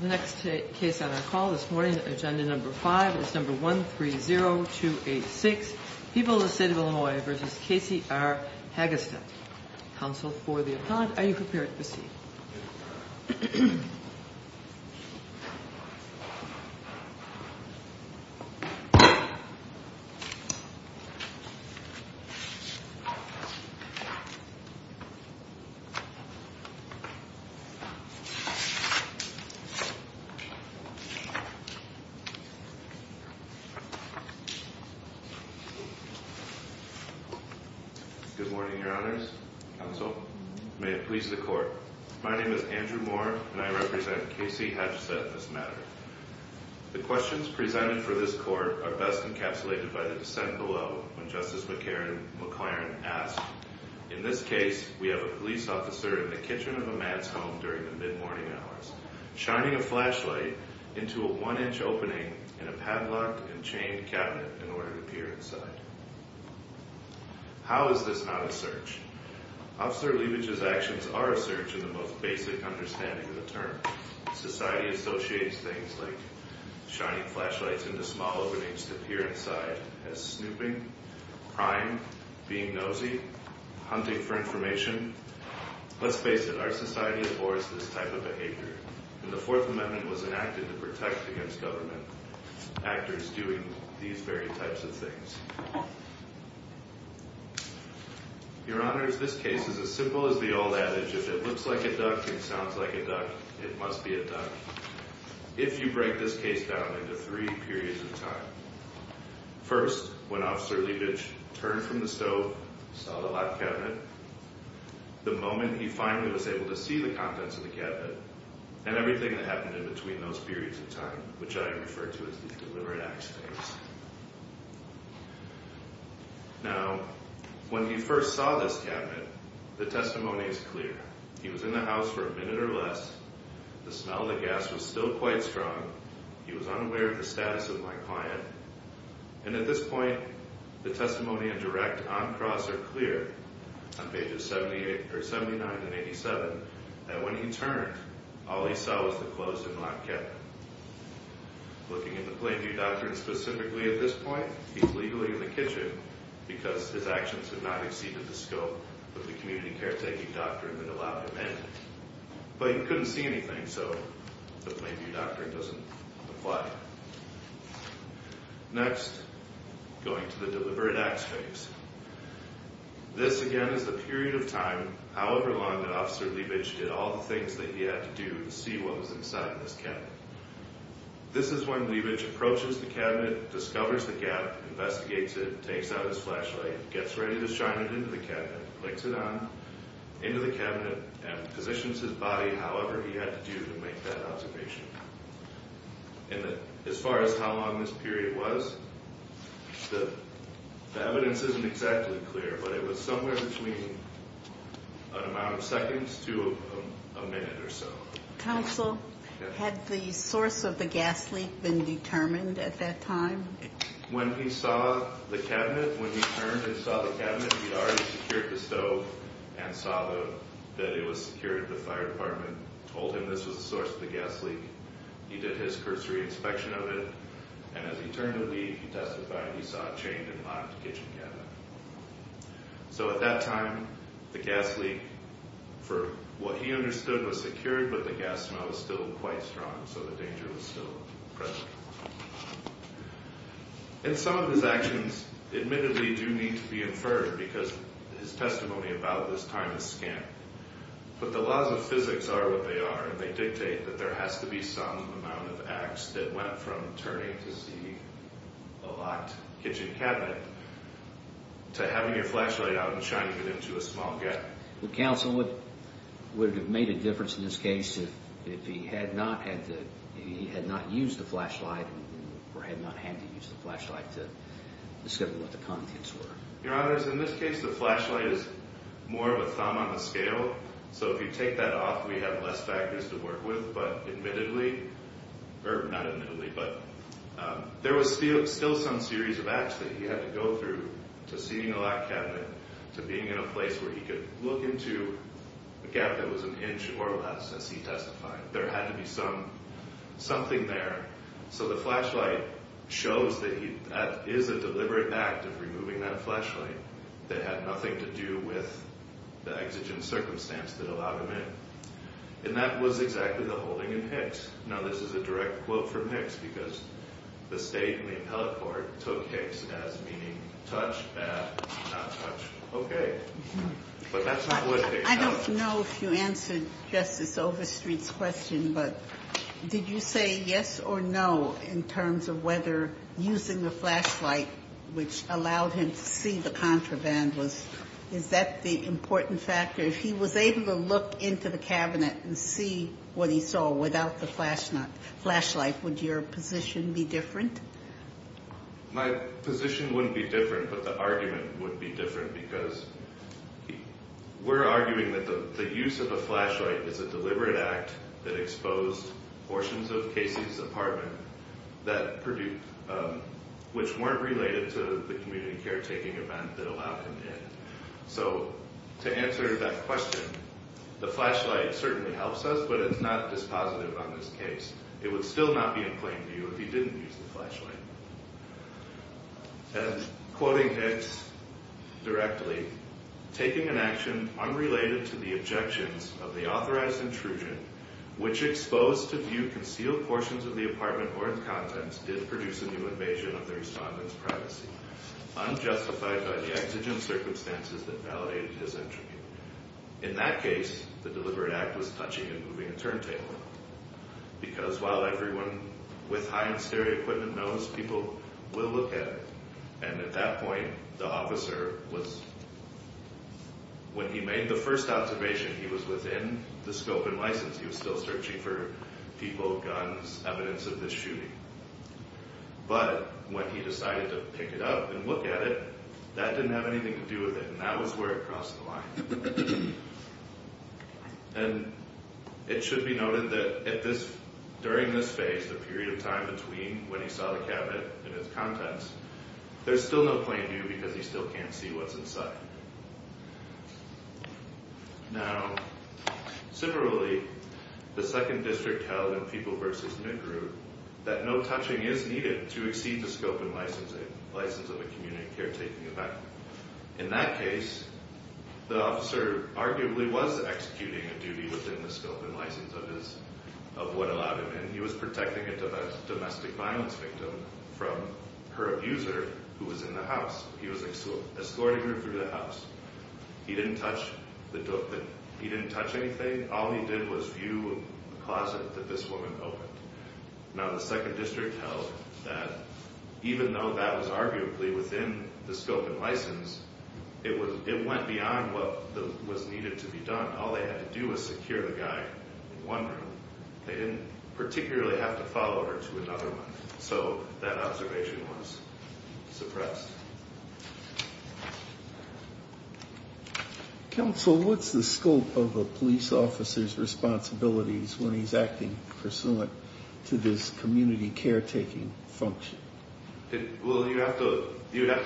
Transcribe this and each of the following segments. The next case on our call this morning, agenda number five, is number 130286. People of the State of Illinois v. Casey R. Hagestedt. Counsel for the appellant, are you prepared to proceed? Good morning, your honors. Counsel, may it please the court. My name is Andrew Moore, and I represent Casey Hagestedt in this matter. The questions presented for this court are best encapsulated by the dissent below, when Justice McClaren asked, In this case, we have a police officer in the kitchen of a mad's home during the mid-morning hours, shining a flashlight into a one-inch opening in a padlocked and chained cabinet in order to peer inside. How is this not a search? Officer Leibich's actions are a search in the most basic understanding of the term. Society associates things like shining flashlights into small openings to peer inside as snooping, prying, being nosy, hunting for information. Let's face it, our society abhors this type of behavior, and the Fourth Amendment was enacted to protect against government actors doing these very types of things. Your honors, this case is as simple as the old adage, if it looks like a duck and sounds like a duck, it must be a duck, if you break this case down into three periods of time. First, when Officer Leibich turned from the stove, saw the locked cabinet, the moment he finally was able to see the contents of the cabinet and everything that happened in between those periods of time, which I refer to as the deliberate acts phase. Now, when he first saw this cabinet, the testimony is clear. He was in the house for a minute or less. The smell of the gas was still quite strong. He was unaware of the status of my client. And at this point, the testimony and direct on cross are clear on pages 79 and 87 that when he turned, all he saw was the closed and locked cabinet. Looking at the plain view doctrine specifically at this point, he's legally in the kitchen because his actions have not exceeded the scope of the community caretaking doctrine that allowed him in. But he couldn't see anything, so the plain view doctrine doesn't apply. Next, going to the deliberate acts phase. This, again, is the period of time, however long, that Officer Leibich did all the things that he had to do to see what was inside this cabinet. This is when Leibich approaches the cabinet, discovers the gap, investigates it, takes out his flashlight, gets ready to shine it into the cabinet, clicks it on into the cabinet, and positions his body however he had to do to make that observation. As far as how long this period was, the evidence isn't exactly clear, but it was somewhere between an amount of seconds to a minute or so. Counsel, had the source of the gas leak been determined at that time? When he saw the cabinet, when he turned and saw the cabinet, he already secured the stove and saw that it was secured. The fire department told him this was the source of the gas leak. He did his cursory inspection of it, and as he turned to leave, he testified he saw it chained and locked to the kitchen cabinet. So at that time, the gas leak, for what he understood, was secured, but the gas smell was still quite strong, so the danger was still present. And some of his actions, admittedly, do need to be inferred, because his testimony about this time is scant. But the laws of physics are what they are, and they dictate that there has to be some amount of acts that went from turning to see a locked kitchen cabinet to having your flashlight out and shining it into a small gap. Counsel, would it have made a difference in this case if he had not used the flashlight or had not had to use the flashlight to discover what the contents were? Your Honor, in this case, the flashlight is more of a thumb on the scale, so if you take that off, we have less factors to work with. But admittedly, or not admittedly, but there was still some series of acts that he had to go through, to seeing a locked cabinet, to being in a place where he could look into a gap that was an inch or less, as he testified. There had to be something there. So the flashlight shows that that is a deliberate act of removing that flashlight that had nothing to do with the exigent circumstance that allowed him in. And that was exactly the holding in Hicks. Now, this is a direct quote from Hicks, because the State and the Appellate Court took Hicks as meaning touch, not touch. Okay. But that's what Hicks said. I don't know if you answered Justice Overstreet's question, but did you say yes or no in terms of whether using the flashlight, which allowed him to see the contraband, is that the important factor? If he was able to look into the cabinet and see what he saw without the flashlight, would your position be different? My position wouldn't be different, but the argument would be different, because we're arguing that the use of a flashlight is a deliberate act that exposed portions of Casey's apartment which weren't related to the community caretaking event that allowed him in. So to answer that question, the flashlight certainly helps us, but it's not dispositive on this case. It would still not be in plain view if he didn't use the flashlight. And quoting Hicks directly, taking an action unrelated to the objections of the authorized intrusion, which exposed to view concealed portions of the apartment or its contents, did produce a new invasion of the respondent's privacy, unjustified by the exigent circumstances that validated his entry. In that case, the deliberate act was touching and moving a turntable, because while everyone with high-end stereo equipment knows, people will look at it. And at that point, the officer was, when he made the first observation, he was within the scope and license. He was still searching for people, guns, evidence of this shooting. But when he decided to pick it up and look at it, that didn't have anything to do with it, and that was where it crossed the line. And it should be noted that during this phase, the period of time between when he saw the cabinet and its contents, there's still no plain view because he still can't see what's inside. Now, similarly, the 2nd District held in People v. Negru that no touching is needed to exceed the scope and license of a community caretaking event. In that case, the officer arguably was executing a duty within the scope and license of what allowed him in. He was protecting a domestic violence victim from her abuser who was in the house. He was escorting her through the house. He didn't touch anything. All he did was view the closet that this woman opened. Now, the 2nd District held that even though that was arguably within the scope and license, it went beyond what was needed to be done. All they had to do was secure the guy in one room. They didn't particularly have to follow her to another one, so that observation was suppressed. Counsel, what's the scope of a police officer's responsibilities when he's acting pursuant to this community caretaking function? Well, you'd have to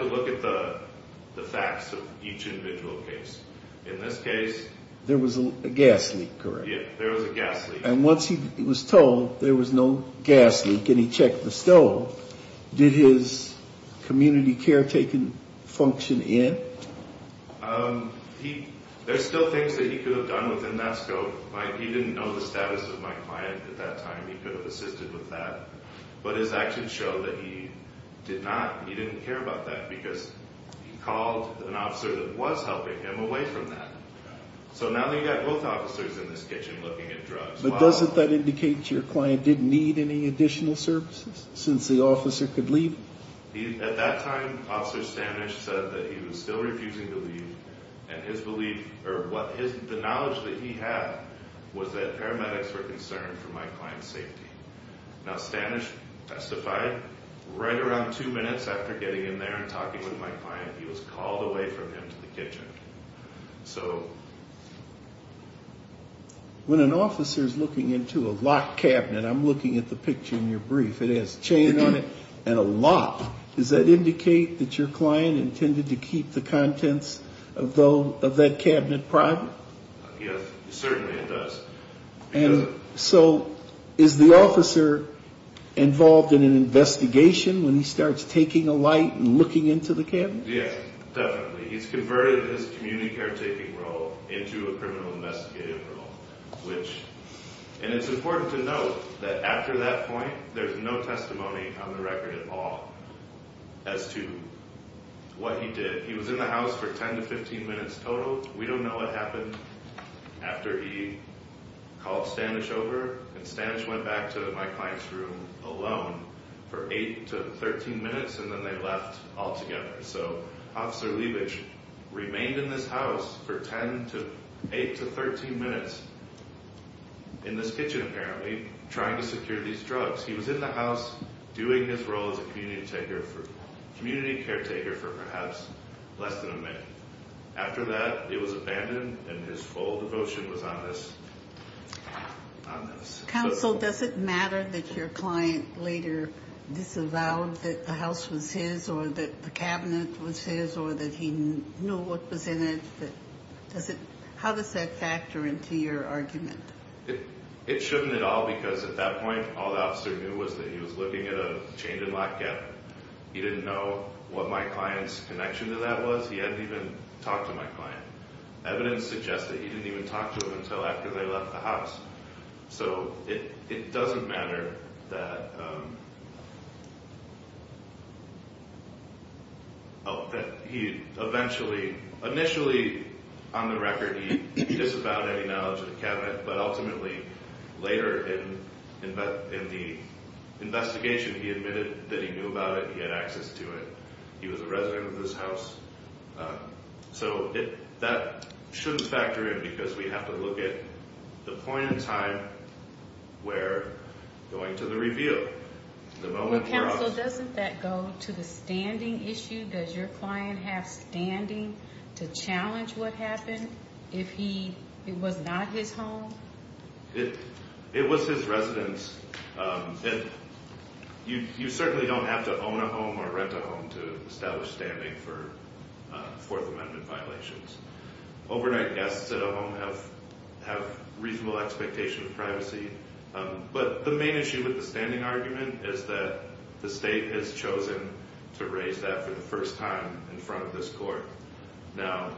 look at the facts of each individual case. In this case... There was a gas leak, correct? Yeah, there was a gas leak. And once he was told there was no gas leak and he checked the stove, did his community caretaking function end? There's still things that he could have done within that scope. He didn't know the status of my client at that time. He could have assisted with that. But his actions showed that he didn't care about that because he called an officer that was helping him away from that. So now that you've got both officers in this kitchen looking at drugs... But doesn't that indicate your client didn't need any additional services since the officer could leave? At that time, Officer Stanich said that he was still refusing to leave, and the knowledge that he had was that paramedics were concerned for my client's safety. Now, Stanich testified right around two minutes after getting in there and talking with my client. He was called away from him to the kitchen. So... When an officer's looking into a locked cabinet, I'm looking at the picture in your brief. It has chain on it and a lock. Does that indicate that your client intended to keep the contents of that cabinet private? Yes, certainly it does. And so is the officer involved in an investigation when he starts taking a light and looking into the cabinet? Yes, definitely. He's converted his community caretaking role into a criminal investigative role. And it's important to note that after that point, there's no testimony on the record at all as to what he did. He was in the house for 10 to 15 minutes total. We don't know what happened after he called Stanich over, and Stanich went back to my client's room alone for 8 to 13 minutes, and then they left altogether. So Officer Leibich remained in this house for 8 to 13 minutes, in this kitchen apparently, trying to secure these drugs. He was in the house doing his role as a community caretaker for perhaps less than a minute. After that, it was abandoned, and his full devotion was on this. Counsel, does it matter that your client later disavowed that the house was his or that the cabinet was his or that he knew what was in it? How does that factor into your argument? It shouldn't at all because at that point, all the officer knew was that he was looking at a chained and locked cabinet. He didn't know what my client's connection to that was. He hadn't even talked to my client. Evidence suggests that he didn't even talk to him until after they left the house. So it doesn't matter that he eventually, initially on the record, he disavowed any knowledge of the cabinet, but ultimately later in the investigation, he admitted that he knew about it and he had access to it. He was a resident of this house. So that shouldn't factor in because we have to look at the point in time where going to the reveal. Counsel, doesn't that go to the standing issue? Does your client have standing to challenge what happened if it was not his home? It was his residence. You certainly don't have to own a home or rent a home to establish standing for Fourth Amendment violations. Overnight guests at a home have reasonable expectation of privacy, but the main issue with the standing argument is that the state has chosen to raise that for the first time in front of this court. Now,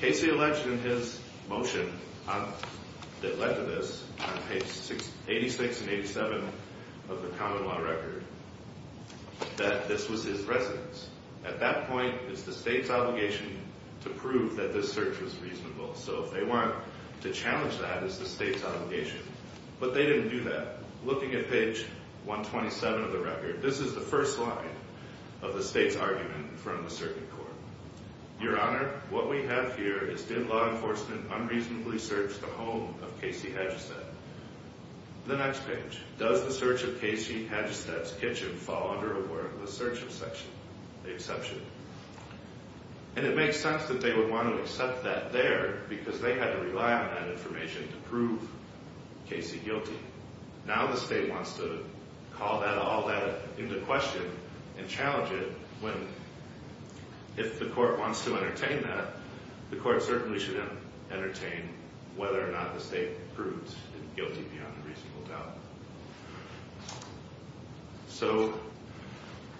Casey alleged in his motion that led to this, on page 86 and 87 of the common law record, that this was his residence. At that point, it's the state's obligation to prove that this search was reasonable. So if they want to challenge that, it's the state's obligation. But they didn't do that. Looking at page 127 of the record, this is the first line of the state's argument in front of the circuit court. Your Honor, what we have here is, did law enforcement unreasonably search the home of Casey Hadjistad? The next page, does the search of Casey Hadjistad's kitchen fall under a word of the search exception? And it makes sense that they would want to accept that there because they had to rely on that information to prove Casey guilty. Now the state wants to call all that into question and challenge it when, if the court wants to entertain that, the court certainly shouldn't entertain whether or not the state proves guilty beyond a reasonable doubt. So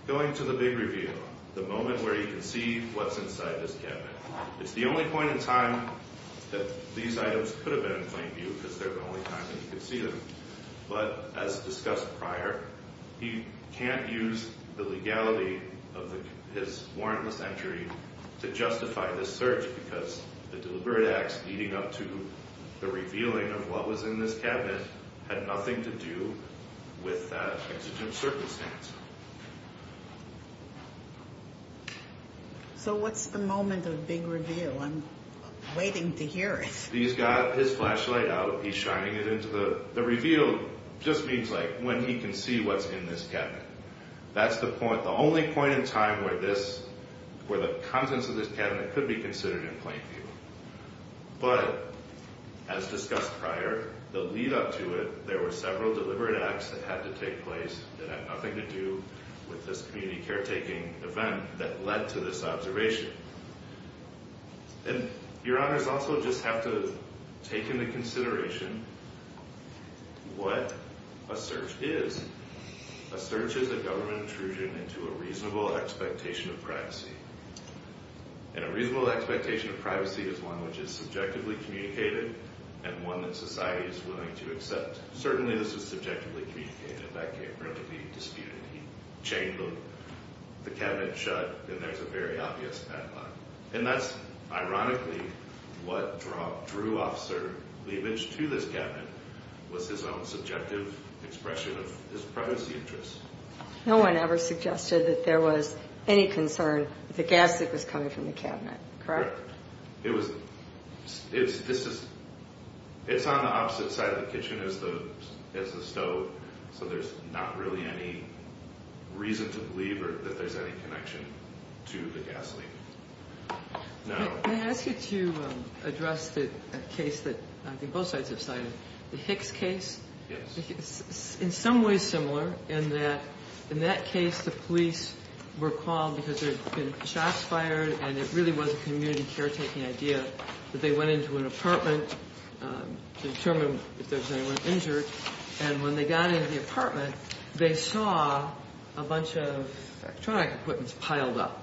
going to the big review, the moment where you can see what's inside this cabinet. It's the only point in time that these items could have been in plain view because they're the only time that you could see them. But as discussed prior, he can't use the legality of his warrantless entry to justify this search because the deliberate acts leading up to the revealing of what was in this cabinet had nothing to do with that exigent circumstance. So what's the moment of big reveal? I'm waiting to hear it. He's got his flashlight out. He's shining it into the reveal. It just means, like, when he can see what's in this cabinet. That's the only point in time where the contents of this cabinet could be considered in plain view. But as discussed prior, the lead-up to it, there were several deliberate acts that had to take place that had nothing to do with this community caretaking event that led to this observation. And your honors also just have to take into consideration what a search is. A search is a government intrusion into a reasonable expectation of privacy. And a reasonable expectation of privacy is one which is subjectively communicated and one that society is willing to accept. Certainly this was subjectively communicated. That can't be disputed. He chained the cabinet shut, and there's a very obvious back line. And that's ironically what drew Officer Liebich to this cabinet, was his own subjective expression of his privacy interests. No one ever suggested that there was any concern with the gas that was coming from the cabinet, correct? Correct. It's on the opposite side of the kitchen as the stove, so there's not really any reason to believe that there's any connection to the gasoline. May I ask you to address the case that I think both sides have cited, the Hicks case? Yes. It's in some ways similar in that, in that case, the police were called because there had been shots fired and it really was a community caretaking idea that they went into an apartment to determine if there was anyone injured. And when they got into the apartment, they saw a bunch of electronic equipment piled up.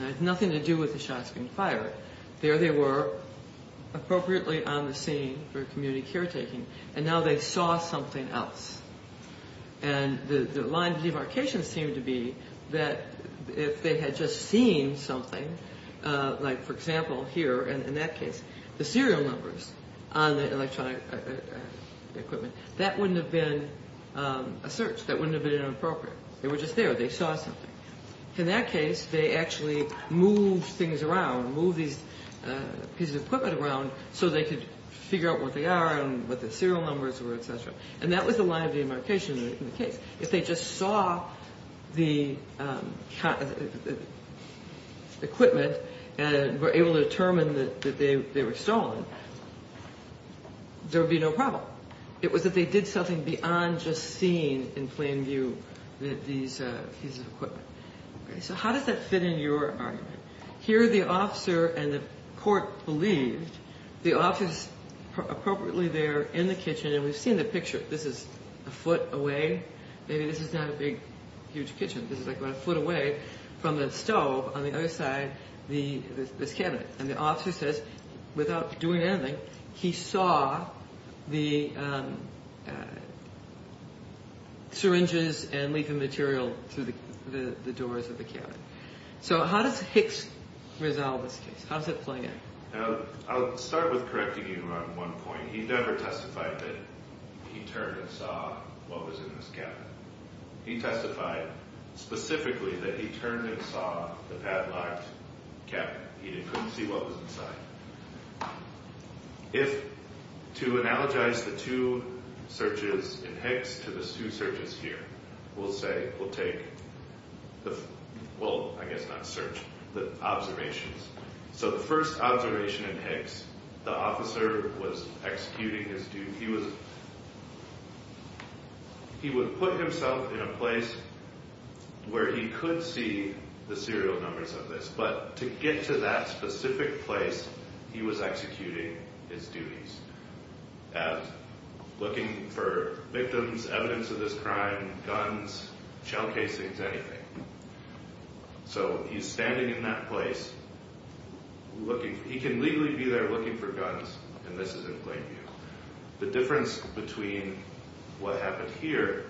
It had nothing to do with the shots being fired. There they were, appropriately on the scene for community caretaking, and now they saw something else. And the line of demarcation seemed to be that if they had just seen something, like, for example, here in that case, the serial numbers on the electronic equipment, that wouldn't have been a search. That wouldn't have been inappropriate. They were just there. They saw something. In that case, they actually moved things around, moved these pieces of equipment around so they could figure out what they are and what the serial numbers were, et cetera. And that was the line of demarcation in the case. If they just saw the equipment and were able to determine that they were stolen, there would be no problem. It was that they did something beyond just seeing in plain view these pieces of equipment. So how does that fit in your argument? Here the officer and the court believed the officer is appropriately there in the kitchen, and we've seen the picture. This is a foot away. Maybe this is not a big, huge kitchen. This is like about a foot away from the stove on the other side of this cabinet. And the officer says, without doing anything, he saw the syringes and leafing material through the doors of the cabinet. So how does Hicks resolve this case? How is it playing out? I'll start with correcting you on one point. He never testified that he turned and saw what was in this cabinet. He testified specifically that he turned and saw the padlocked cabinet. He couldn't see what was inside. If, to analogize the two searches in Hicks to the two searches here, we'll say we'll take the – well, I guess not search, the observations. So the first observation in Hicks, the officer was executing his duty. He was – he would put himself in a place where he could see the serial numbers of this, but to get to that specific place, he was executing his duties at looking for victims, evidence of this crime, guns, shell casings, anything. So he's standing in that place looking – he can legally be there looking for guns, and this is in plain view. The difference between what happened here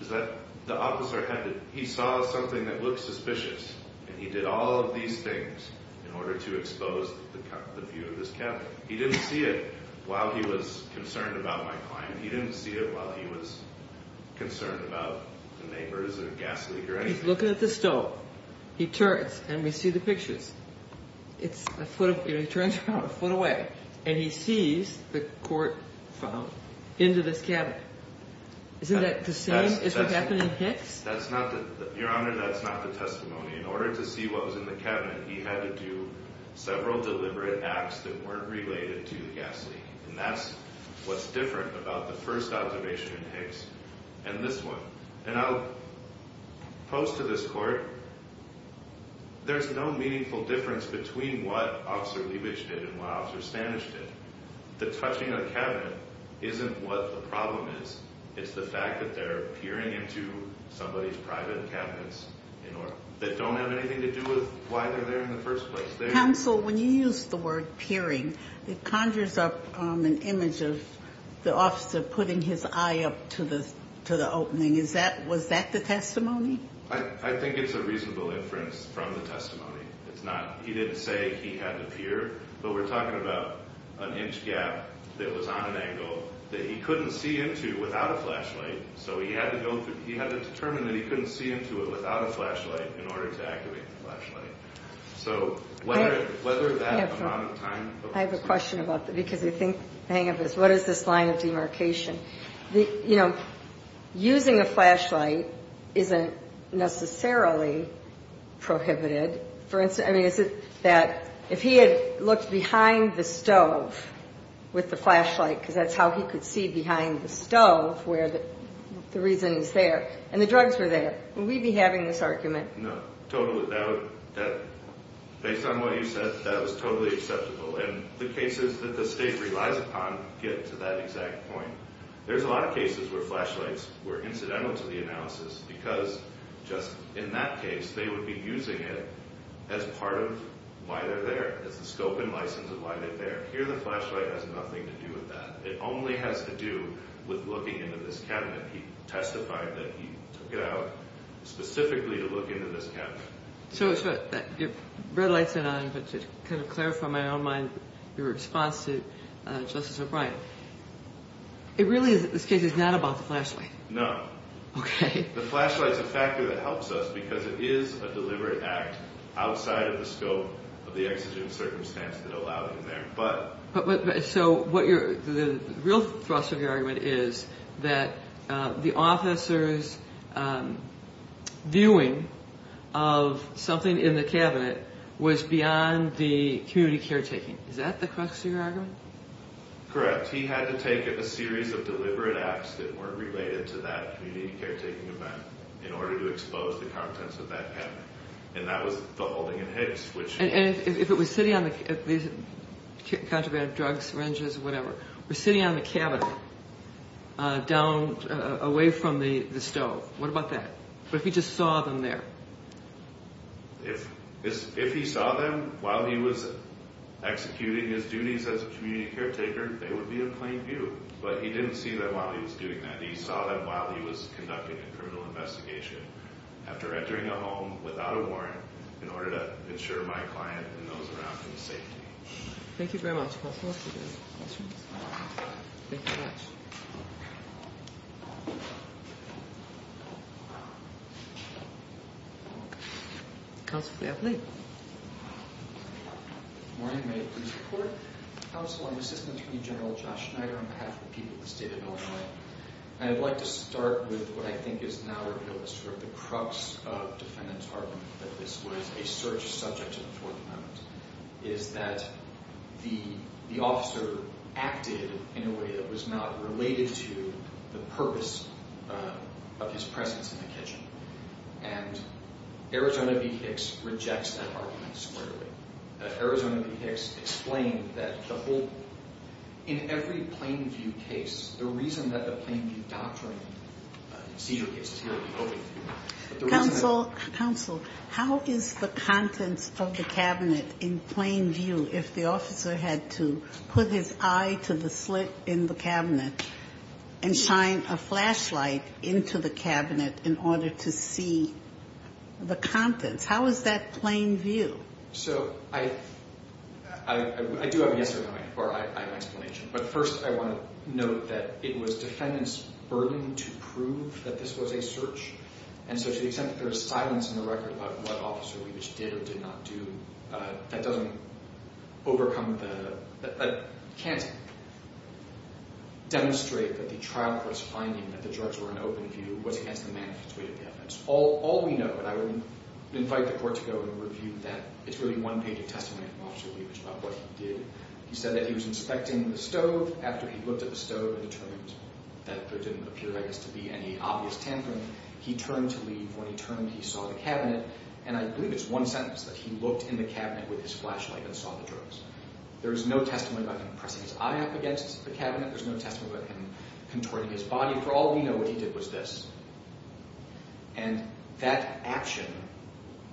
is that the officer had to – he saw something that looked suspicious, and he did all of these things in order to expose the view of this cabinet. He didn't see it while he was concerned about my client. He didn't see it while he was concerned about the neighbors or a gas leak or anything. He's looking at the stove. He turns, and we see the pictures. It's a foot – he turns around a foot away, and he sees the court file into this cabinet. Isn't that the same as what happened in Hicks? That's not the – Your Honor, that's not the testimony. In order to see what was in the cabinet, he had to do several deliberate acts that weren't related to the gas leak, and that's what's different about the first observation in Hicks and this one. And I'll pose to this court, there's no meaningful difference between what Officer Leibich did and what Officer Stanich did. The touching of the cabinet isn't what the problem is. It's the fact that they're peering into somebody's private cabinets that don't have anything to do with why they're there in the first place. Counsel, when you use the word peering, it conjures up an image of the officer putting his eye up to the opening. Is that – was that the testimony? I think it's a reasonable inference from the testimony. It's not – he didn't say he had to peer, but we're talking about an inch gap that was on an angle that he couldn't see into without a flashlight, so he had to go through – he had to determine that he couldn't see into it without a flashlight in order to activate the flashlight. So whether that amount of time – I have a question about that because I think – what is this line of demarcation? You know, using a flashlight isn't necessarily prohibited. I mean, is it that if he had looked behind the stove with the flashlight, because that's how he could see behind the stove where the reason is there, and the drugs were there, would we be having this argument? No, total without – based on what you said, that was totally acceptable. And the cases that the State relies upon get to that exact point. There's a lot of cases where flashlights were incidental to the analysis because just in that case they would be using it as part of why they're there, as the scope and license of why they're there. Here the flashlight has nothing to do with that. It only has to do with looking into this cabinet. And he testified that he took it out specifically to look into this cabinet. So to clarify my own mind, your response to Justice O'Brien, it really is that this case is not about the flashlight. No. Okay. The flashlight's a factor that helps us because it is a deliberate act outside of the scope of the exigent circumstances that allow it in there. So the real thrust of your argument is that the officer's viewing of something in the cabinet was beyond the community caretaking. Is that the crux of your argument? Correct. He had to take a series of deliberate acts that weren't related to that community caretaking event in order to expose the contents of that cabinet. And that was the holding in Hicks. And if it was sitting on the cabinet away from the stove, what about that? What if he just saw them there? If he saw them while he was executing his duties as a community caretaker, they would be in plain view. But he didn't see them while he was doing that. He saw them while he was conducting a criminal investigation, after entering a home without a warrant in order to ensure my client and those around him safety. Thank you very much, Counselor. Thank you very much. Thank you very much. Counselor, please. Good morning. May it please the Court. Counsel, I'm Assistant Attorney General Josh Schneider on behalf of the people of the state of Illinois. And I'd like to start with what I think is now the crux of defendant's argument that this was a search subject to the Fourth Amendment, is that the officer acted in a way that was not related to the purpose of his presence in the kitchen. And Arizona v. Hicks rejects that argument squarely. Arizona v. Hicks explained that in every plain view case, the reason that the plain view doctrine seizure cases here would be open view. Counsel, how is the contents of the cabinet in plain view if the officer had to put his eye to the slit in the cabinet and shine a flashlight into the cabinet in order to see the contents? How is that plain view? So I do have an explanation. But first, I want to note that it was defendant's burden to prove that this was a search. And so to the extent that there is silence in the record about what Officer Leibich did or did not do, that doesn't overcome the – that can't demonstrate that the trial court's finding that the drugs were in open view was against the manifest way of the evidence. All we know, and I would invite the Court to go and review that. It's really one-paged testimony from Officer Leibich about what he did. He said that he was inspecting the stove. After he looked at the stove and determined that there didn't appear, I guess, to be any obvious tampering, he turned to leave. When he turned, he saw the cabinet. And I believe it's one sentence that he looked in the cabinet with his flashlight and saw the drugs. There is no testimony about him pressing his eye up against the cabinet. There's no testimony about him contorting his body. For all we know, what he did was this. And that action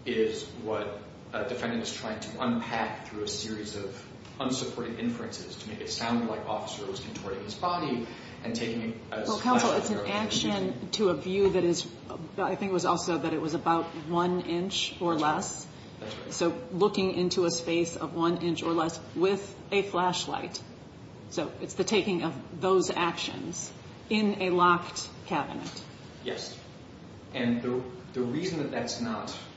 is what a defendant is trying to unpack through a series of unsupported inferences to make it sound like Officer was contorting his body and taking a – Well, counsel, it's an action to a view that is – I think it was also that it was about one inch or less. That's right. So looking into a space of one inch or less with a flashlight. So it's the taking of those actions in a locked cabinet. Yes. And the reason that that's not –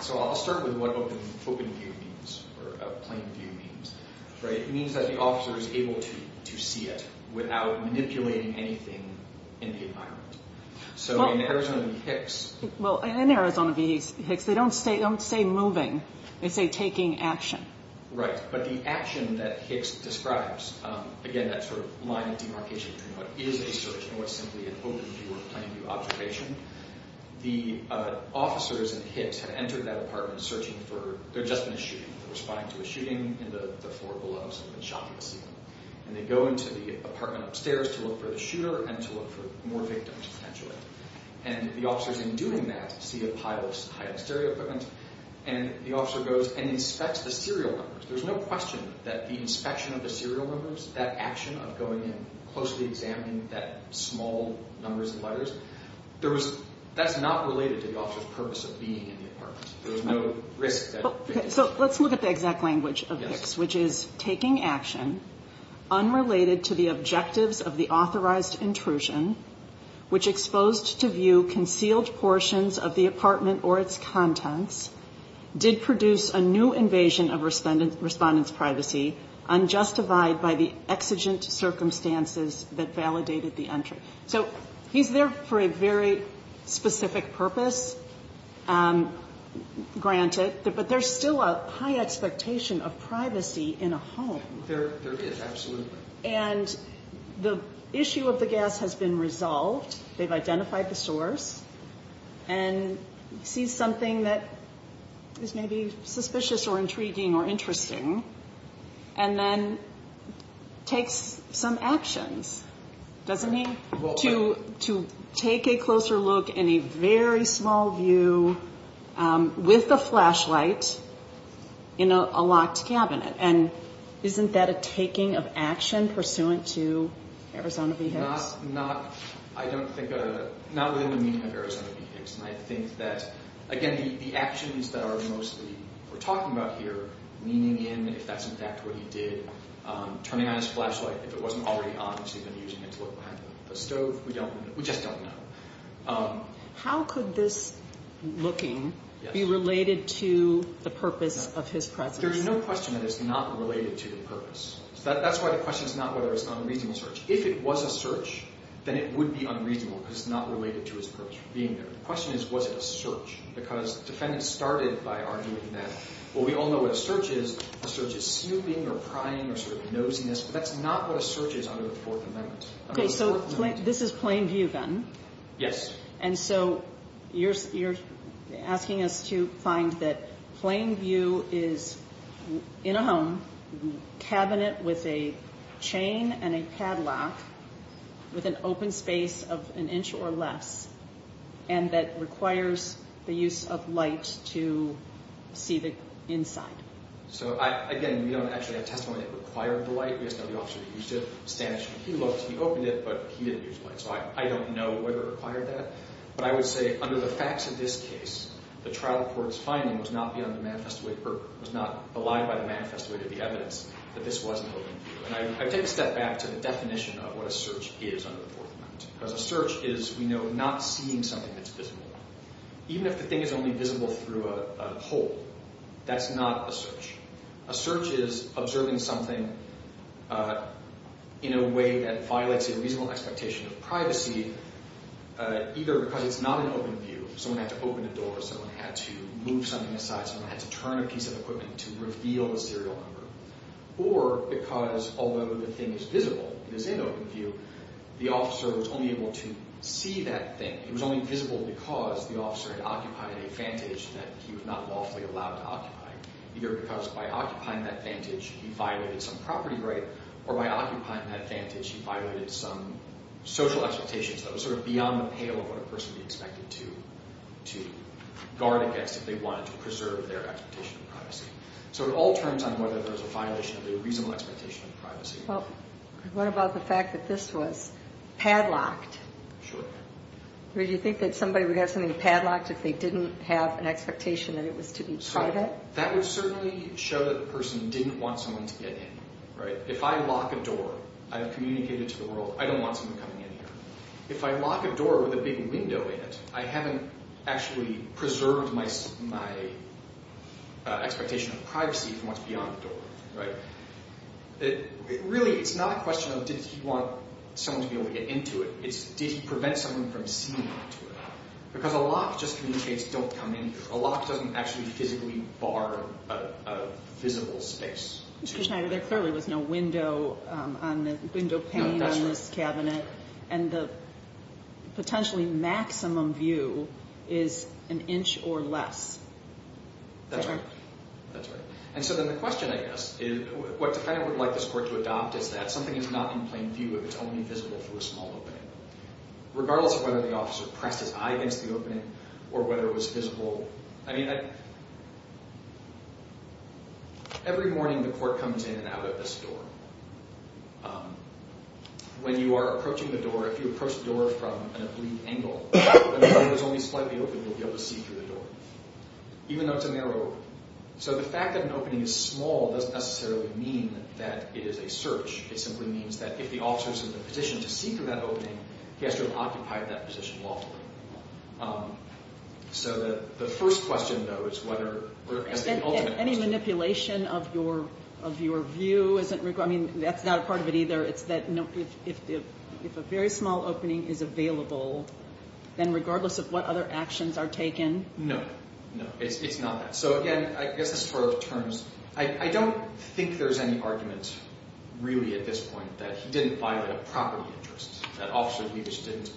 so I'll start with what open view means or plain view means. It means that the officer is able to see it without manipulating anything in the environment. So in Arizona v. Hicks – Well, in Arizona v. Hicks, they don't say moving. They say taking action. Right. But the action that Hicks describes – again, that sort of line of demarcation between what is a search and what's simply an open view or plain view observation. The officers at Hicks have entered that apartment searching for – they're just in a shooting. They're responding to a shooting in the floor below. Someone's been shot in the ceiling. And they go into the apartment upstairs to look for the shooter and to look for more victims, potentially. And the officers, in doing that, see a pile of high-end stereo equipment, and the officer goes and inspects the serial numbers. There's no question that the inspection of the serial numbers, that action of going in, closely examining that small numbers of letters, that's not related to the officer's purpose of being in the apartment. There's no risk that victims – So let's look at the exact language of Hicks, which is taking action unrelated to the objectives of the authorized intrusion, which exposed to view concealed portions of the apartment or its contents, did produce a new invasion of respondent's privacy, unjustified by the exigent circumstances that validated the entry. So he's there for a very specific purpose, granted, but there's still a high expectation of privacy in a home. There is, absolutely. And the issue of the gas has been resolved. They've identified the source, and sees something that is maybe suspicious or intriguing or interesting, and then takes some actions, doesn't he? To take a closer look in a very small view with a flashlight in a locked cabinet. And isn't that a taking of action pursuant to Arizona v. Hicks? Not within the meaning of Arizona v. Hicks. And I think that, again, the actions that are mostly we're talking about here, leaning in, if that's in fact what he did, turning on his flashlight, if it wasn't already on because he'd been using it to look behind the stove, we just don't know. How could this looking be related to the purpose of his presence? But there's no question that it's not related to the purpose. That's why the question is not whether it's an unreasonable search. If it was a search, then it would be unreasonable because it's not related to his purpose for being there. The question is, was it a search? Because defendants started by arguing that, well, we all know what a search is. A search is snooping or prying or sort of nosiness, but that's not what a search is under the Fourth Amendment. Okay, so this is plain view, then? Yes. And so you're asking us to find that plain view is in a home, cabinet with a chain and a Cadillac with an open space of an inch or less and that requires the use of light to see the inside. So, again, we don't actually have testimony that required the light. We just know the officer used it. He looked, he opened it, but he didn't use the light. So I don't know whether it required that. But I would say under the facts of this case, the trial court's finding was not beyond the manifesto of the evidence that this was an open view. And I take a step back to the definition of what a search is under the Fourth Amendment because a search is, we know, not seeing something that's visible. Even if the thing is only visible through a hole, that's not a search. A search is observing something in a way that violates a reasonable expectation of privacy, either because it's not an open view, someone had to open a door, someone had to move something aside, someone had to turn a piece of equipment to reveal a serial number, or because although the thing is visible, it is an open view, the officer was only able to see that thing. It was only visible because the officer had occupied a vantage that he was not lawfully allowed to occupy, either because by occupying that vantage he violated some property right, or by occupying that vantage he violated some social expectations that were sort of beyond the pale of what a person would be expected to guard against if they wanted to preserve their expectation of privacy. So it all turns on whether there's a violation of a reasonable expectation of privacy. Well, what about the fact that this was padlocked? Sure. Do you think that somebody would have something padlocked if they didn't have an expectation that it was to be targeted? Well, that would certainly show that the person didn't want someone to get in. If I lock a door, I've communicated to the world, I don't want someone coming in here. If I lock a door with a big window in it, I haven't actually preserved my expectation of privacy from what's beyond the door. Really, it's not a question of did he want someone to be able to get into it, it's did he prevent someone from seeing into it. Because a lock just communicates, don't come in here. A lock doesn't actually physically bar a visible space. Mr. Schneider, there clearly was no window pane on this cabinet, and the potentially maximum view is an inch or less. That's right. And so then the question, I guess, is what the defendant would like this court to adopt is that something is not in plain view if it's only visible for a small opening. Regardless of whether the officer pressed his eye against the opening or whether it was visible. Every morning the court comes in and out of this door. When you are approaching the door, if you approach the door from an oblique angle, and the door is only slightly open, you'll be able to see through the door, even though it's a narrow opening. So the fact that an opening is small doesn't necessarily mean that it is a search. It simply means that if the officer is in a position to see through that opening, he has to have occupied that position lawfully. So the first question, though, is whether as the ultimate action. Any manipulation of your view? I mean, that's not a part of it either. It's that if a very small opening is available, then regardless of what other actions are taken? No, no, it's not that. So, again, I guess this is for terms. I don't think there's any argument really at this point that he didn't violate a property interest, that Officer Liebich didn't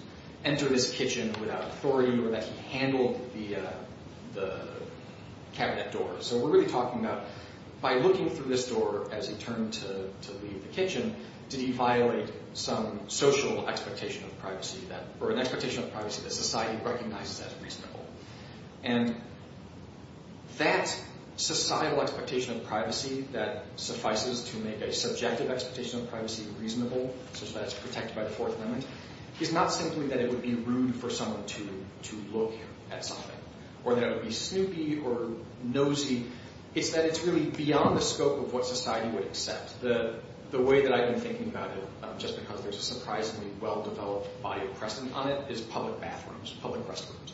enter this kitchen without authority, or that he handled the cabinet door. So we're really talking about by looking through this door as he turned to leave the kitchen, did he violate some social expectation of privacy, or an expectation of privacy that society recognizes as reasonable? And that societal expectation of privacy that suffices to make a subjective expectation of privacy reasonable, so that it's protected by the Fourth Amendment, is not simply that it would be rude for someone to look at something, or that it would be snoopy or nosy. It's that it's really beyond the scope of what society would accept. The way that I've been thinking about it, just because there's a surprisingly well-developed body of precedent on it, is public bathrooms, public restrooms.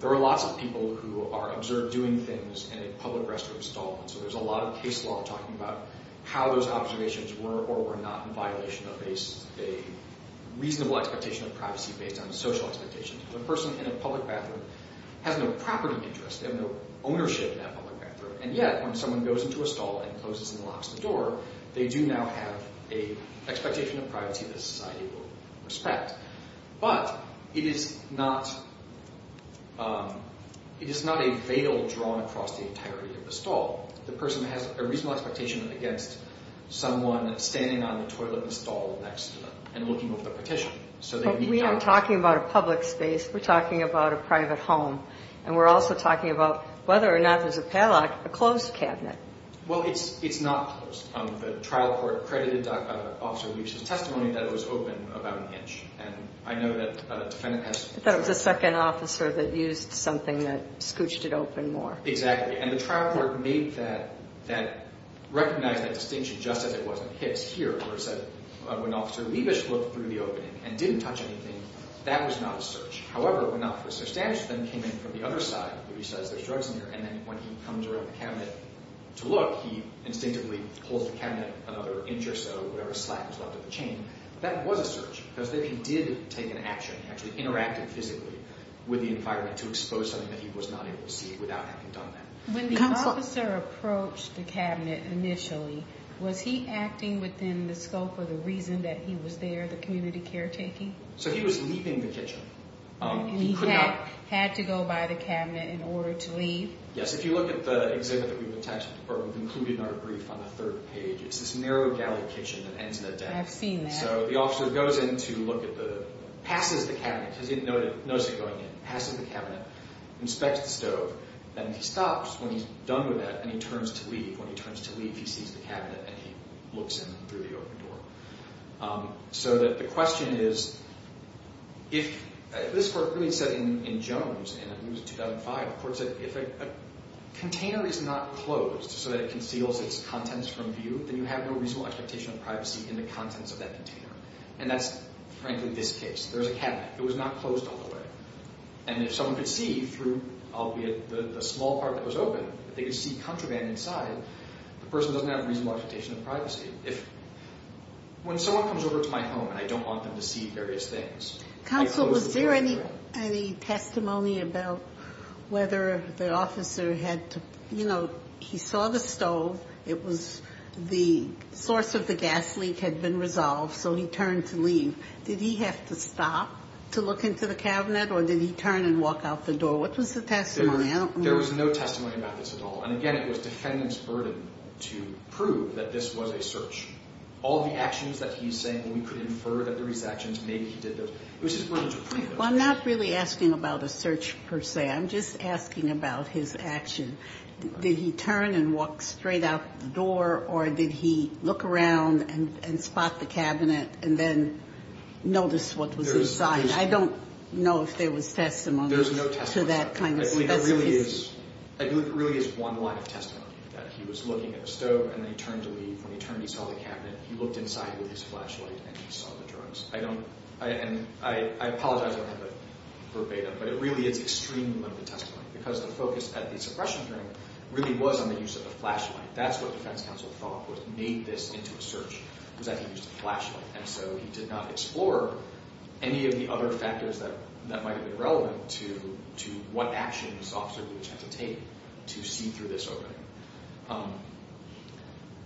There are lots of people who are observed doing things in a public restroom stall, and so there's a lot of case law talking about how those observations were or were not in violation of a reasonable expectation of privacy based on social expectations. A person in a public bathroom has no property interest, they have no ownership in that public bathroom, and yet when someone goes into a stall and closes and locks the door, they do now have an expectation of privacy that society will respect. But it is not a veil drawn across the entirety of the stall. The person has a reasonable expectation against someone standing on the toilet stall next to them and looking over the partition. But we aren't talking about a public space. We're talking about a private home, and we're also talking about whether or not there's a padlock, a closed cabinet. Well, it's not closed. The trial court credited Officer Liebich's testimony that it was open about an inch. And I know that defendant has— I thought it was the second officer that used something that scooched it open more. Exactly. And the trial court made that—recognized that distinction just as it was in Hicks here, where it said when Officer Liebich looked through the opening and didn't touch anything, that was not a search. However, when Officer Stanislaw then came in from the other side, where he says there's drugs in here, and then when he comes around the cabinet to look, he instinctively pulls the cabinet another inch or so, whatever slack is left of the chain. That was a search, because then he did take an action. He actually interacted physically with the environment to expose something that he was not able to see without having done that. When the officer approached the cabinet initially, was he acting within the scope or the reason that he was there, the community caretaking? So he was leaving the kitchen. He had to go by the cabinet in order to leave? Yes. If you look at the exhibit that we've attached, or included in our brief on the third page, it's this narrow galley kitchen that ends in a death. I've seen that. So the officer goes in to look at the—passes the cabinet, because he didn't notice it going in, passes the cabinet, inspects the stove, and he stops when he's done with that, and he turns to leave. When he turns to leave, he sees the cabinet, and he looks in through the open door. So the question is, if—this court really said in Jones, and it was 2005, the court said if a container is not closed so that it conceals its contents from view, then you have no reasonable expectation of privacy in the contents of that container. And that's, frankly, this case. There's a cabinet. It was not closed all the way. And if someone could see through, albeit the small part that was open, if they could see contraband inside, the person doesn't have a reasonable expectation of privacy. If—when someone comes over to my home, and I don't want them to see various things— Counsel, was there any testimony about whether the officer had to—you know, he saw the stove. It was—the source of the gas leak had been resolved, so he turned to leave. Did he have to stop to look into the cabinet, or did he turn and walk out the door? What was the testimony? I don't know. There was no testimony about this at all. And, again, it was defendant's burden to prove that this was a search. All the actions that he's saying, well, we could infer that there were these actions. Maybe he did those. It was his burden to prove those actions. Well, I'm not really asking about a search, per se. I'm just asking about his action. Did he turn and walk straight out the door, or did he look around and spot the cabinet and then notice what was inside? There's— I don't know if there was testimony to that kind of— There's no testimony. I believe it really is one line of testimony, that he was looking at the stove, and then he turned to leave. When he turned, he saw the cabinet. He looked inside with his flashlight, and he saw the drugs. I don't—and I apologize if I'm kind of verbatim, but it really is extremely limited testimony, because the focus at the suppression hearing really was on the use of the flashlight. That's what defense counsel thought was—made this into a search, was that he used a flashlight. And so he did not explore any of the other factors that might have been relevant to what actions the officer would have had to take to see through this opening.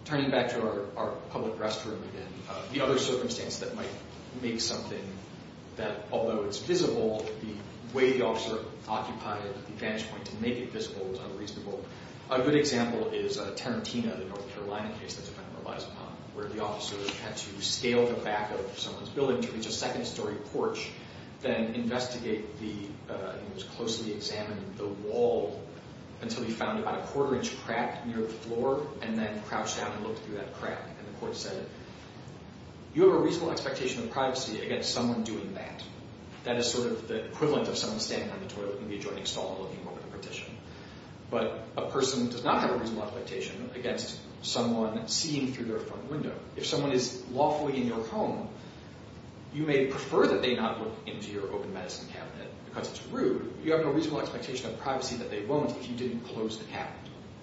Turning back to our public restroom again, the other circumstance that might make something that, although it's visible, the way the officer occupied the vantage point to make it visible is unreasonable. A good example is Tarantino, the North Carolina case that the defendant relies upon, where the officer had to scale the back of someone's building to reach a second-story porch, then investigate the—he was closely examining the wall until he found about a quarter-inch crack near the floor, and then crouched down and looked through that crack. And the court said, you have a reasonable expectation of privacy against someone doing that. That is sort of the equivalent of someone standing on the toilet in the adjoining stall looking over the partition. But a person does not have a reasonable expectation against someone seeing through their front window. If someone is lawfully in your home, you may prefer that they not look into your open medicine cabinet because it's rude, but you have a reasonable expectation of privacy that they won't if you didn't close the cabinet.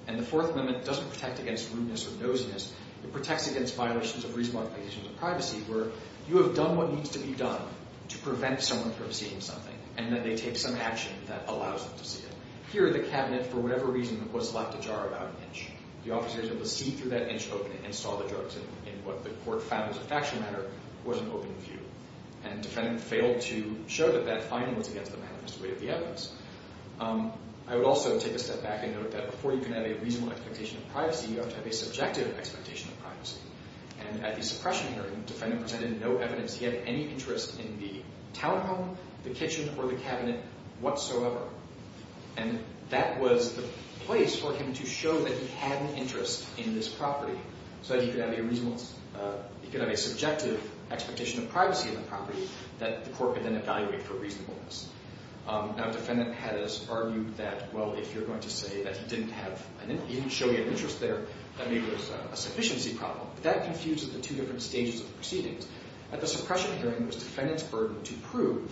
And the fourth limit doesn't protect against rudeness or nosiness. It protects against violations of reasonable expectations of privacy, where you have done what needs to be done to prevent someone from seeing something, and then they take some action that allows them to see it. Here, the cabinet, for whatever reason, was left ajar about an inch. The officer was able to see through that inch opening and saw the drugs, and what the court found as a factual matter was an open view. And the defendant failed to show that that finding was against the manifest way of the evidence. I would also take a step back and note that before you can have a reasonable expectation of privacy, you have to have a subjective expectation of privacy. And at the suppression hearing, the defendant presented no evidence he had any interest in the townhome, the kitchen, or the cabinet whatsoever. And that was the place for him to show that he had an interest in this property so that he could have a subjective expectation of privacy in the property that the court could then evaluate for reasonableness. Now, a defendant has argued that, well, if you're going to say that he didn't show any interest there, that maybe there was a sufficiency problem. But that confuses the two different stages of the proceedings. At the suppression hearing, it was the defendant's burden to prove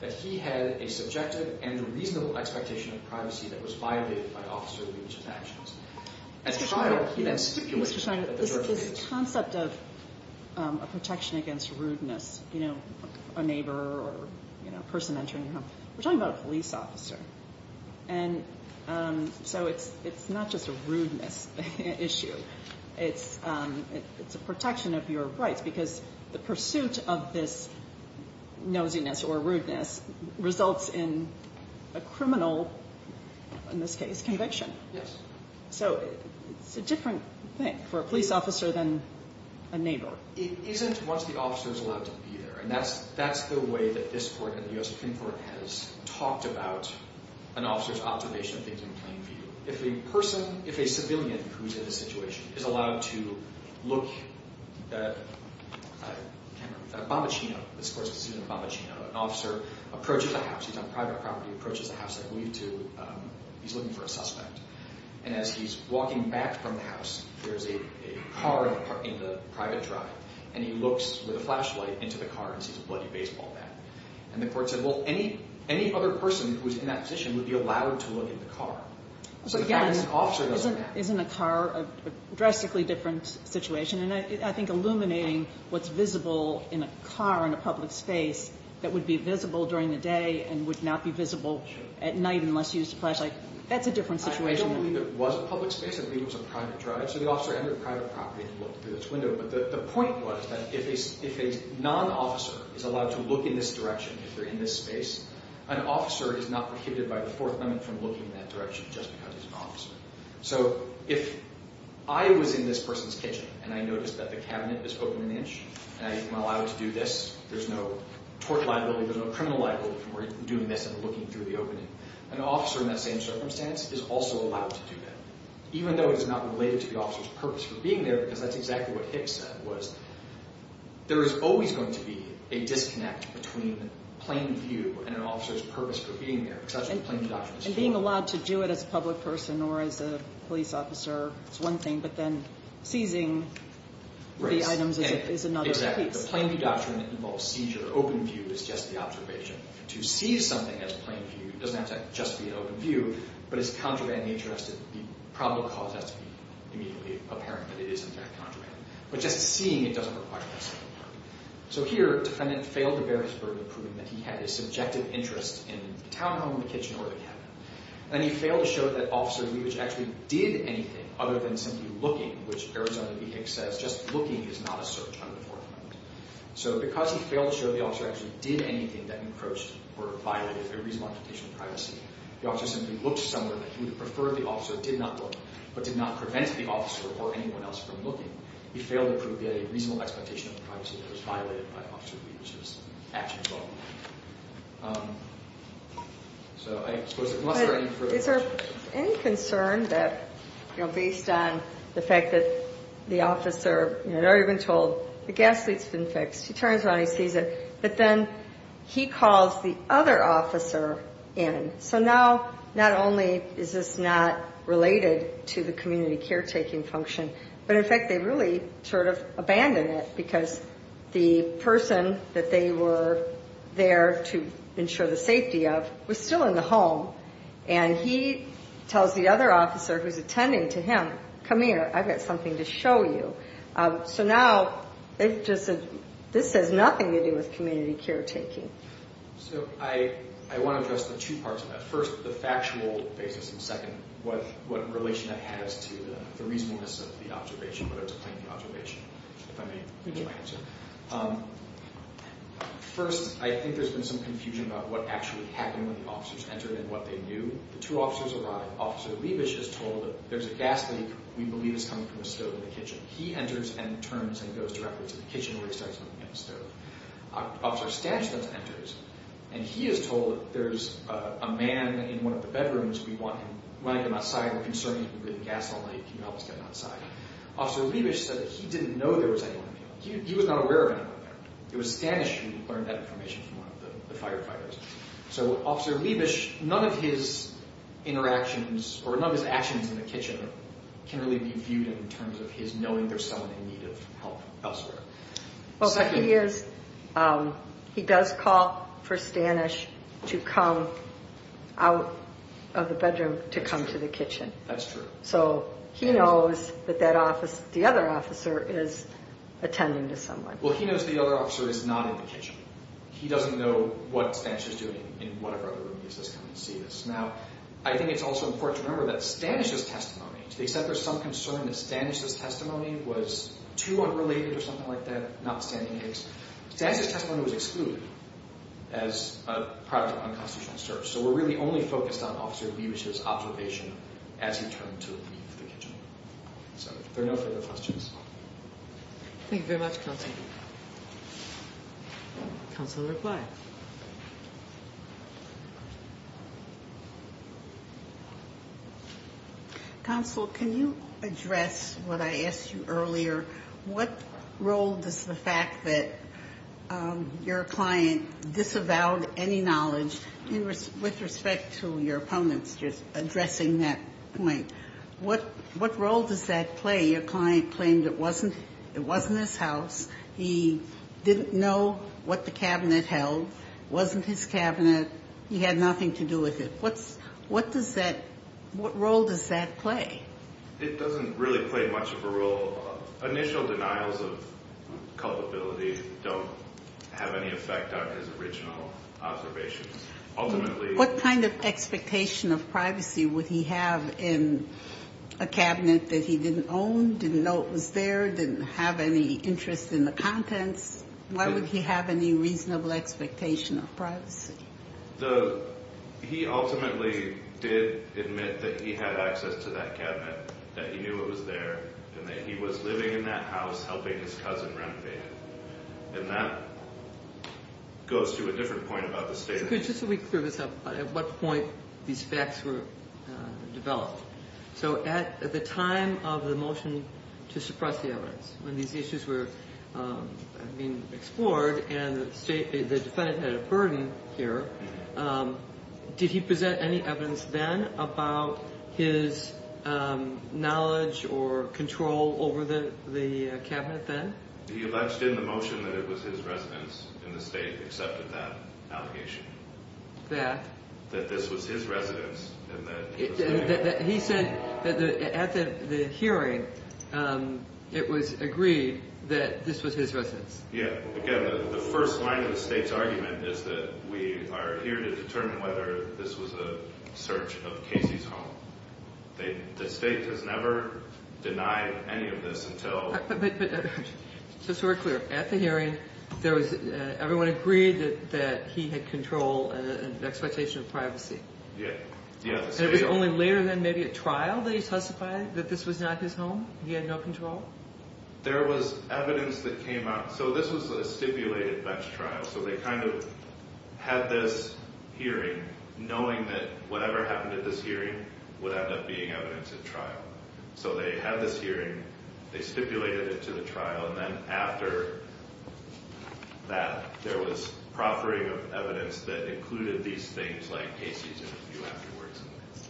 that he had a subjective and reasonable expectation of privacy that was violated by officer's leadership actions. At trial, he then stipulated that there were evidence. This concept of a protection against rudeness, you know, a neighbor or a person entering your home, we're talking about a police officer. And so it's not just a rudeness issue. It's a protection of your rights because the pursuit of this nosiness or rudeness results in a criminal, in this case, conviction. Yes. So it's a different thing for a police officer than a neighbor. It isn't once the officer is allowed to be there. And that's the way that this court and the U.S. Supreme Court has talked about an officer's observation of things in plain view. So if a person, if a civilian who's in this situation is allowed to look at a camera, a bombaccino, this court's conceding a bombaccino. An officer approaches the house. He's on private property. He approaches the house. He's looking for a suspect. And as he's walking back from the house, there's a car in the private drive. And he looks with a flashlight into the car and sees a bloody baseball bat. And the court said, well, any other person who's in that position would be allowed to look in the car. So again, isn't a car a drastically different situation? And I think illuminating what's visible in a car in a public space that would be visible during the day and would not be visible at night unless you used a flashlight, that's a different situation. I don't believe it was a public space. I believe it was a private drive. So the officer entered private property and looked through this window. But the point was that if a non-officer is allowed to look in this direction, if they're in this space, an officer is not prohibited by the Fourth Amendment from looking in that direction just because he's an officer. So if I was in this person's kitchen and I noticed that the cabinet is open an inch and I'm allowed to do this, there's no tort liability, there's no criminal liability for doing this and looking through the opening. An officer in that same circumstance is also allowed to do that, even though it's not related to the officer's purpose for being there because that's exactly what Hicks said, there is always going to be a disconnect between plain view and an officer's purpose for being there, because that's what plain view doctrine is for. And being allowed to do it as a public person or as a police officer is one thing, but then seizing the items is another piece. Exactly. The plain view doctrine involves seizure. Open view is just the observation. To seize something as plain view doesn't have to just be an open view, but its contraband nature has to be probable cause has to be immediately apparent that it is in fact contraband. But just seeing it doesn't require that sort of work. So here, defendant failed to bear his burden of proving that he had a subjective interest in the townhome, the kitchen, or the cabinet. Then he failed to show that Officer Levitch actually did anything other than simply looking, which Arizona v. Hicks says just looking is not a search under the Fourth Amendment. So because he failed to show the officer actually did anything that encroached or violated a reasonable expectation of privacy, the officer simply looked somewhere that he would have preferred the officer did not look, but did not prevent the officer or anyone else from looking. He failed to prove he had a reasonable expectation of the privacy that was violated by Officer Levitch's actions. So I suppose unless there are any further questions. Is there any concern that, you know, based on the fact that the officer had already been told the gas leak's been fixed, he turns around, he sees it, but then he calls the other officer in. So now not only is this not related to the community caretaking function, but in fact they really sort of abandoned it because the person that they were there to ensure the safety of was still in the home, and he tells the other officer who's attending to him, come here, I've got something to show you. So now this has nothing to do with community caretaking. So I want to address the two parts of that. First, the factual basis, and second, what relation that has to the reasonableness of the observation, whether it's a plaintiff observation, if I may use my answer. First, I think there's been some confusion about what actually happened when the officers entered and what they knew. The two officers arrive. Officer Levitch is told that there's a gas leak we believe is coming from a stove in the kitchen. He enters and turns and goes directly to the kitchen where he starts looking at the stove. Officer Stanislaw enters, and he is told that there's a man in one of the bedrooms. We want him, we're going to get him outside. We're concerned he's been breathing gas all night. Can you help us get him outside? Officer Levitch said that he didn't know there was anyone in there. He was not aware of anyone there. It was Stanislaw who learned that information from one of the firefighters. So Officer Levitch, none of his interactions or none of his actions in the kitchen can really be viewed in terms of his knowing there's someone in need of help elsewhere. He does call for Stanislaw to come out of the bedroom to come to the kitchen. That's true. So he knows that the other officer is attending to someone. Well, he knows the other officer is not in the kitchen. He doesn't know what Stanislaw is doing in whatever other room he's coming to see this. Now, I think it's also important to remember that Stanislaw's testimony, they said there's some concern that Stanislaw's testimony was too unrelated or something like that, not standing eggs. Stanislaw's testimony was excluded as a product of unconstitutional search. So we're really only focused on Officer Levitch's observation as he turned to leave the kitchen. So if there are no further questions. Thank you very much, Counselor. Counselor, reply. Counsel, can you address what I asked you earlier? What role does the fact that your client disavowed any knowledge with respect to your opponents, just addressing that point, what role does that play? Your client claimed it wasn't his house. He didn't know what the cabinet held. It wasn't his cabinet. He had nothing to do with it. What role does that play? It doesn't really play much of a role. Initial denials of culpability don't have any effect on his original observations. What kind of expectation of privacy would he have in a cabinet that he didn't own, didn't know it was there, didn't have any interest in the contents? Why would he have any reasonable expectation of privacy? He ultimately did admit that he had access to that cabinet, that he knew it was there, and that he was living in that house helping his cousin renovate it. And that goes to a different point about the state of things. Could you just let me clear this up? At what point these facts were developed? So at the time of the motion to suppress the evidence, when these issues were being explored and the defendant had a burden here, did he present any evidence then about his knowledge or control over the cabinet then? He alleged in the motion that it was his residence in the state that accepted that allegation. That? That this was his residence in the state. He said that at the hearing, it was agreed that this was his residence. Yeah. Again, the first line of the state's argument is that we are here to determine whether this was a search of Casey's home. The state has never denied any of this until... But just to be clear, at the hearing, everyone agreed that he had control and an expectation of privacy. Yeah. And it was only later then, maybe at trial, that he testified that this was not his home? He had no control? There was evidence that came out. So this was a stipulated bench trial. So they kind of had this hearing knowing that whatever happened at this hearing would end up being evidence at trial. So they had this hearing. They stipulated it to the trial. And then after that, there was proffering of evidence that included these things like Casey's interview afterwards.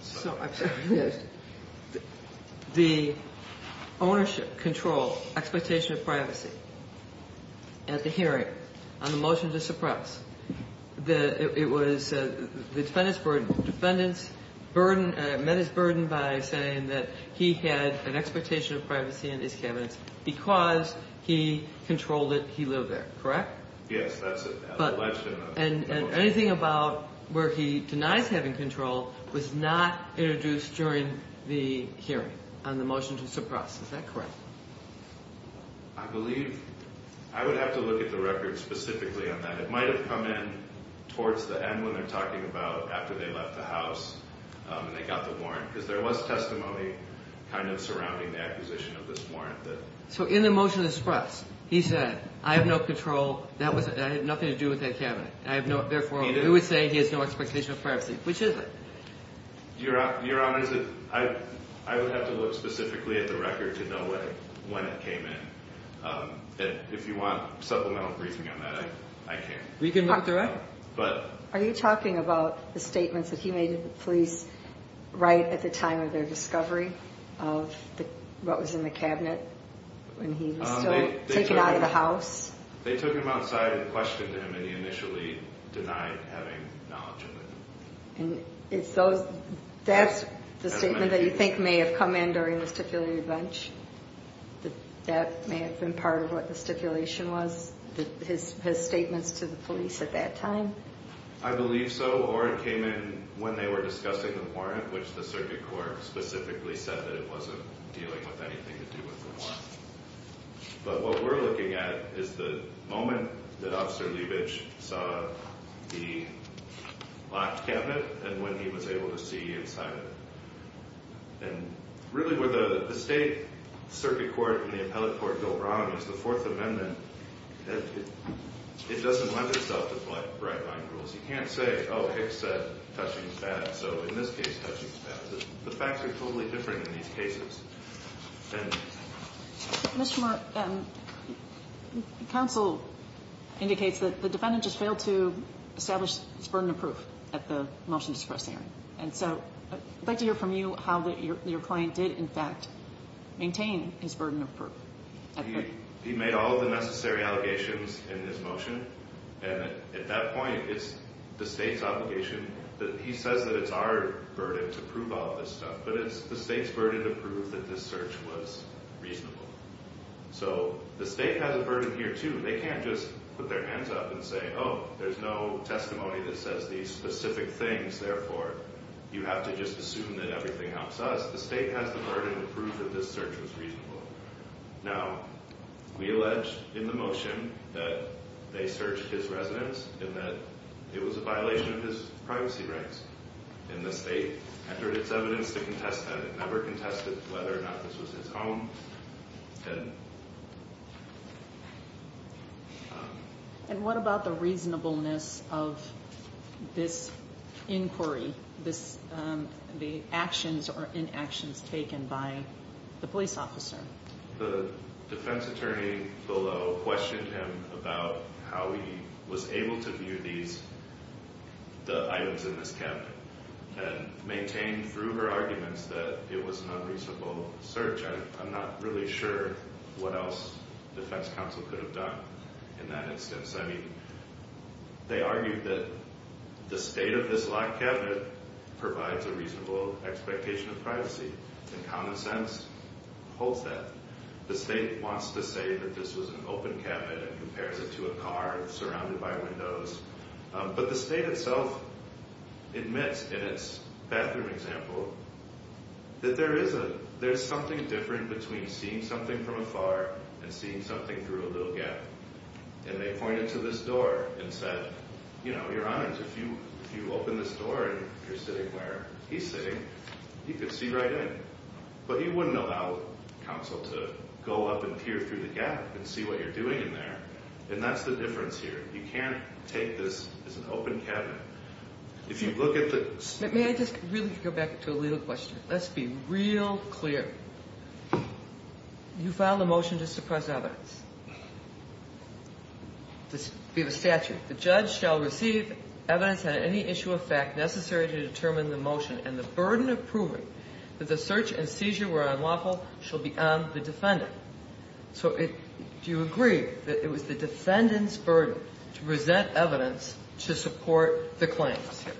So the ownership, control, expectation of privacy at the hearing on the motion to suppress, it was the defendant's burden. It met his burden by saying that he had an expectation of privacy in his cabinets because he controlled it, he lived there. Correct? Yes, that's alleged in the motion. And anything about where he denies having control was not introduced during the hearing on the motion to suppress. Is that correct? I believe... I would have to look at the record specifically on that. It might have come in towards the end when they're talking about after they left the house and they got the warrant, because there was testimony kind of surrounding the acquisition of this warrant. So in the motion to suppress, he said, I have no control. That had nothing to do with that cabinet. Therefore, we would say he has no expectation of privacy, which is it? Your Honor, I would have to look specifically at the record to know when it came in. If you want supplemental briefing on that, I can. We can look through it. Are you talking about the statements that he made to the police right at the time of their discovery of what was in the cabinet when he was still taken out of the house? They took him outside and questioned him, and he initially denied having knowledge of it. That's the statement that you think may have come in during the stipulated bench? That may have been part of what the stipulation was, his statements to the police at that time? I believe so, or it came in when they were discussing the warrant, which the circuit court specifically said that it wasn't dealing with anything to do with the warrant. But what we're looking at is the moment that Officer Leibich saw the locked cabinet and when he was able to see inside of it. And really where the state circuit court and the appellate court go wrong is the Fourth Amendment. It doesn't lend itself to bright-blind rules. You can't say, oh, Hicks said, touching is bad, so in this case, touching is bad. The facts are totally different in these cases. Ms. Schumer, counsel indicates that the defendant just failed to establish his burden of proof at the motion to suppress Aaron. And so I'd like to hear from you how your client did, in fact, maintain his burden of proof. He made all of the necessary allegations in his motion. And at that point, it's the state's obligation. He says that it's our burden to prove all this stuff, but it's the state's burden to prove that this search was reasonable. So the state has a burden here, too. They can't just put their hands up and say, oh, there's no testimony that says these specific things, therefore you have to just assume that everything helps us. The state has the burden to prove that this search was reasonable. Now, we allege in the motion that they searched his residence and that it was a violation of his privacy rights. And the state entered its evidence to contest that. It never contested whether or not this was his home. And what about the reasonableness of this inquiry, the actions or inactions taken by the police officer? The defense attorney below questioned him about how he was able to view the items in this cabinet and maintained through her arguments that it was an unreasonable search. I'm not really sure what else defense counsel could have done in that instance. I mean, they argued that the state of this locked cabinet provides a reasonable expectation of privacy. And common sense holds that. The state wants to say that this was an open cabinet and compares it to a car surrounded by windows. But the state itself admits in its bathroom example that there is something different between seeing something from afar and seeing something through a little gap. And they pointed to this door and said, you know, Your Honor, if you open this door and you're sitting where he's sitting, you can see right in. But you wouldn't allow counsel to go up and peer through the gap and see what you're doing in there. And that's the difference here. You can't take this as an open cabinet. If you look at the— May I just really go back to a legal question? Let's be real clear. You filed a motion to suppress evidence. We have a statute. The judge shall receive evidence on any issue of fact necessary to determine the motion. And the burden of proving that the search and seizure were unlawful shall be on the defendant. So do you agree that it was the defendant's burden to present evidence to support the claims here?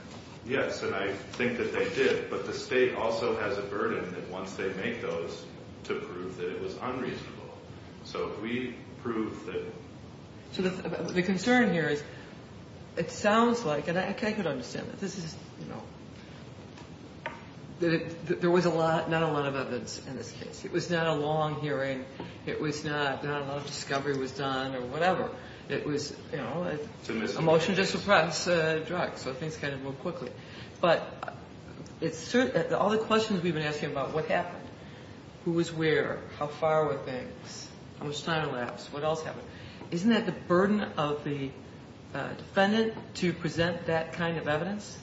Yes, and I think that they did. But the state also has a burden that once they make those, to prove that it was unreasonable. So if we prove that— So the concern here is it sounds like, and I could understand that this is, you know, that there was not a lot of evidence in this case. It was not a long hearing. It was not a lot of discovery was done or whatever. It was, you know, a motion to suppress a drug, so things kind of moved quickly. But all the questions we've been asking about what happened, who was where, how far were things, how much time elapsed, what else happened, isn't that the burden of the defendant to present that kind of evidence?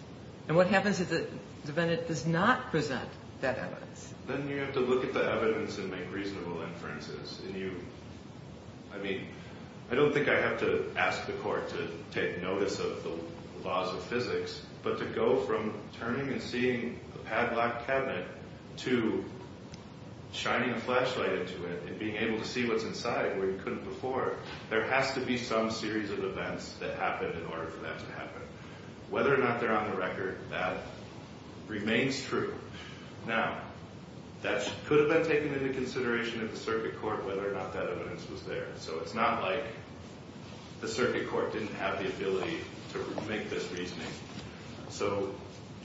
And what happens if the defendant does not present that evidence? Then you have to look at the evidence and make reasonable inferences. And you—I mean, I don't think I have to ask the court to take notice of the laws of physics, but to go from turning and seeing a padlocked cabinet to shining a flashlight into it and being able to see what's inside where you couldn't before, there has to be some series of events that happened in order for that to happen. Whether or not they're on the record, that remains true. Now, that could have been taken into consideration at the circuit court, whether or not that evidence was there. So it's not like the circuit court didn't have the ability to make this reasoning. So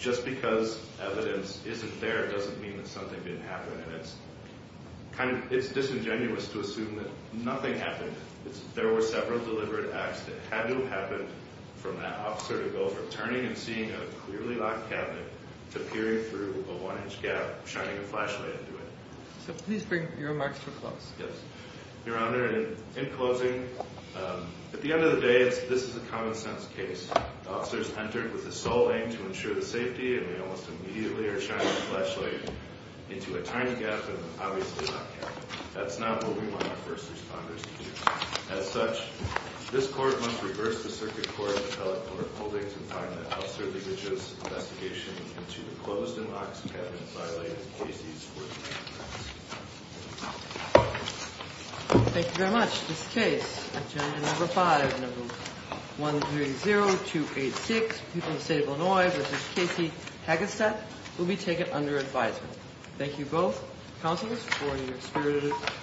just because evidence isn't there doesn't mean that something didn't happen. And it's disingenuous to assume that nothing happened. There were several deliberate acts that had to have happened for that officer to go from turning and seeing a clearly locked cabinet to peering through a one-inch gap, shining a flashlight into it. So please bring your remarks to a close. Yes. Your Honor, in closing, at the end of the day, this is a common-sense case. The officers entered with the sole aim to ensure the safety, and they almost immediately are shining a flashlight into a tiny gap and obviously not capping it. That's not what we want our first responders to do. As such, this Court must reverse the circuit court's appellate order holding to find that officer who bridges an investigation into the closed-and-locked cabinet-violated cases worth making. Thank you very much. This concludes this case. Agenda No. 5 of No. 130286, People of the State of Illinois v. Casey Hagestad, will be taken under advisement. Thank you both counselors for your experience.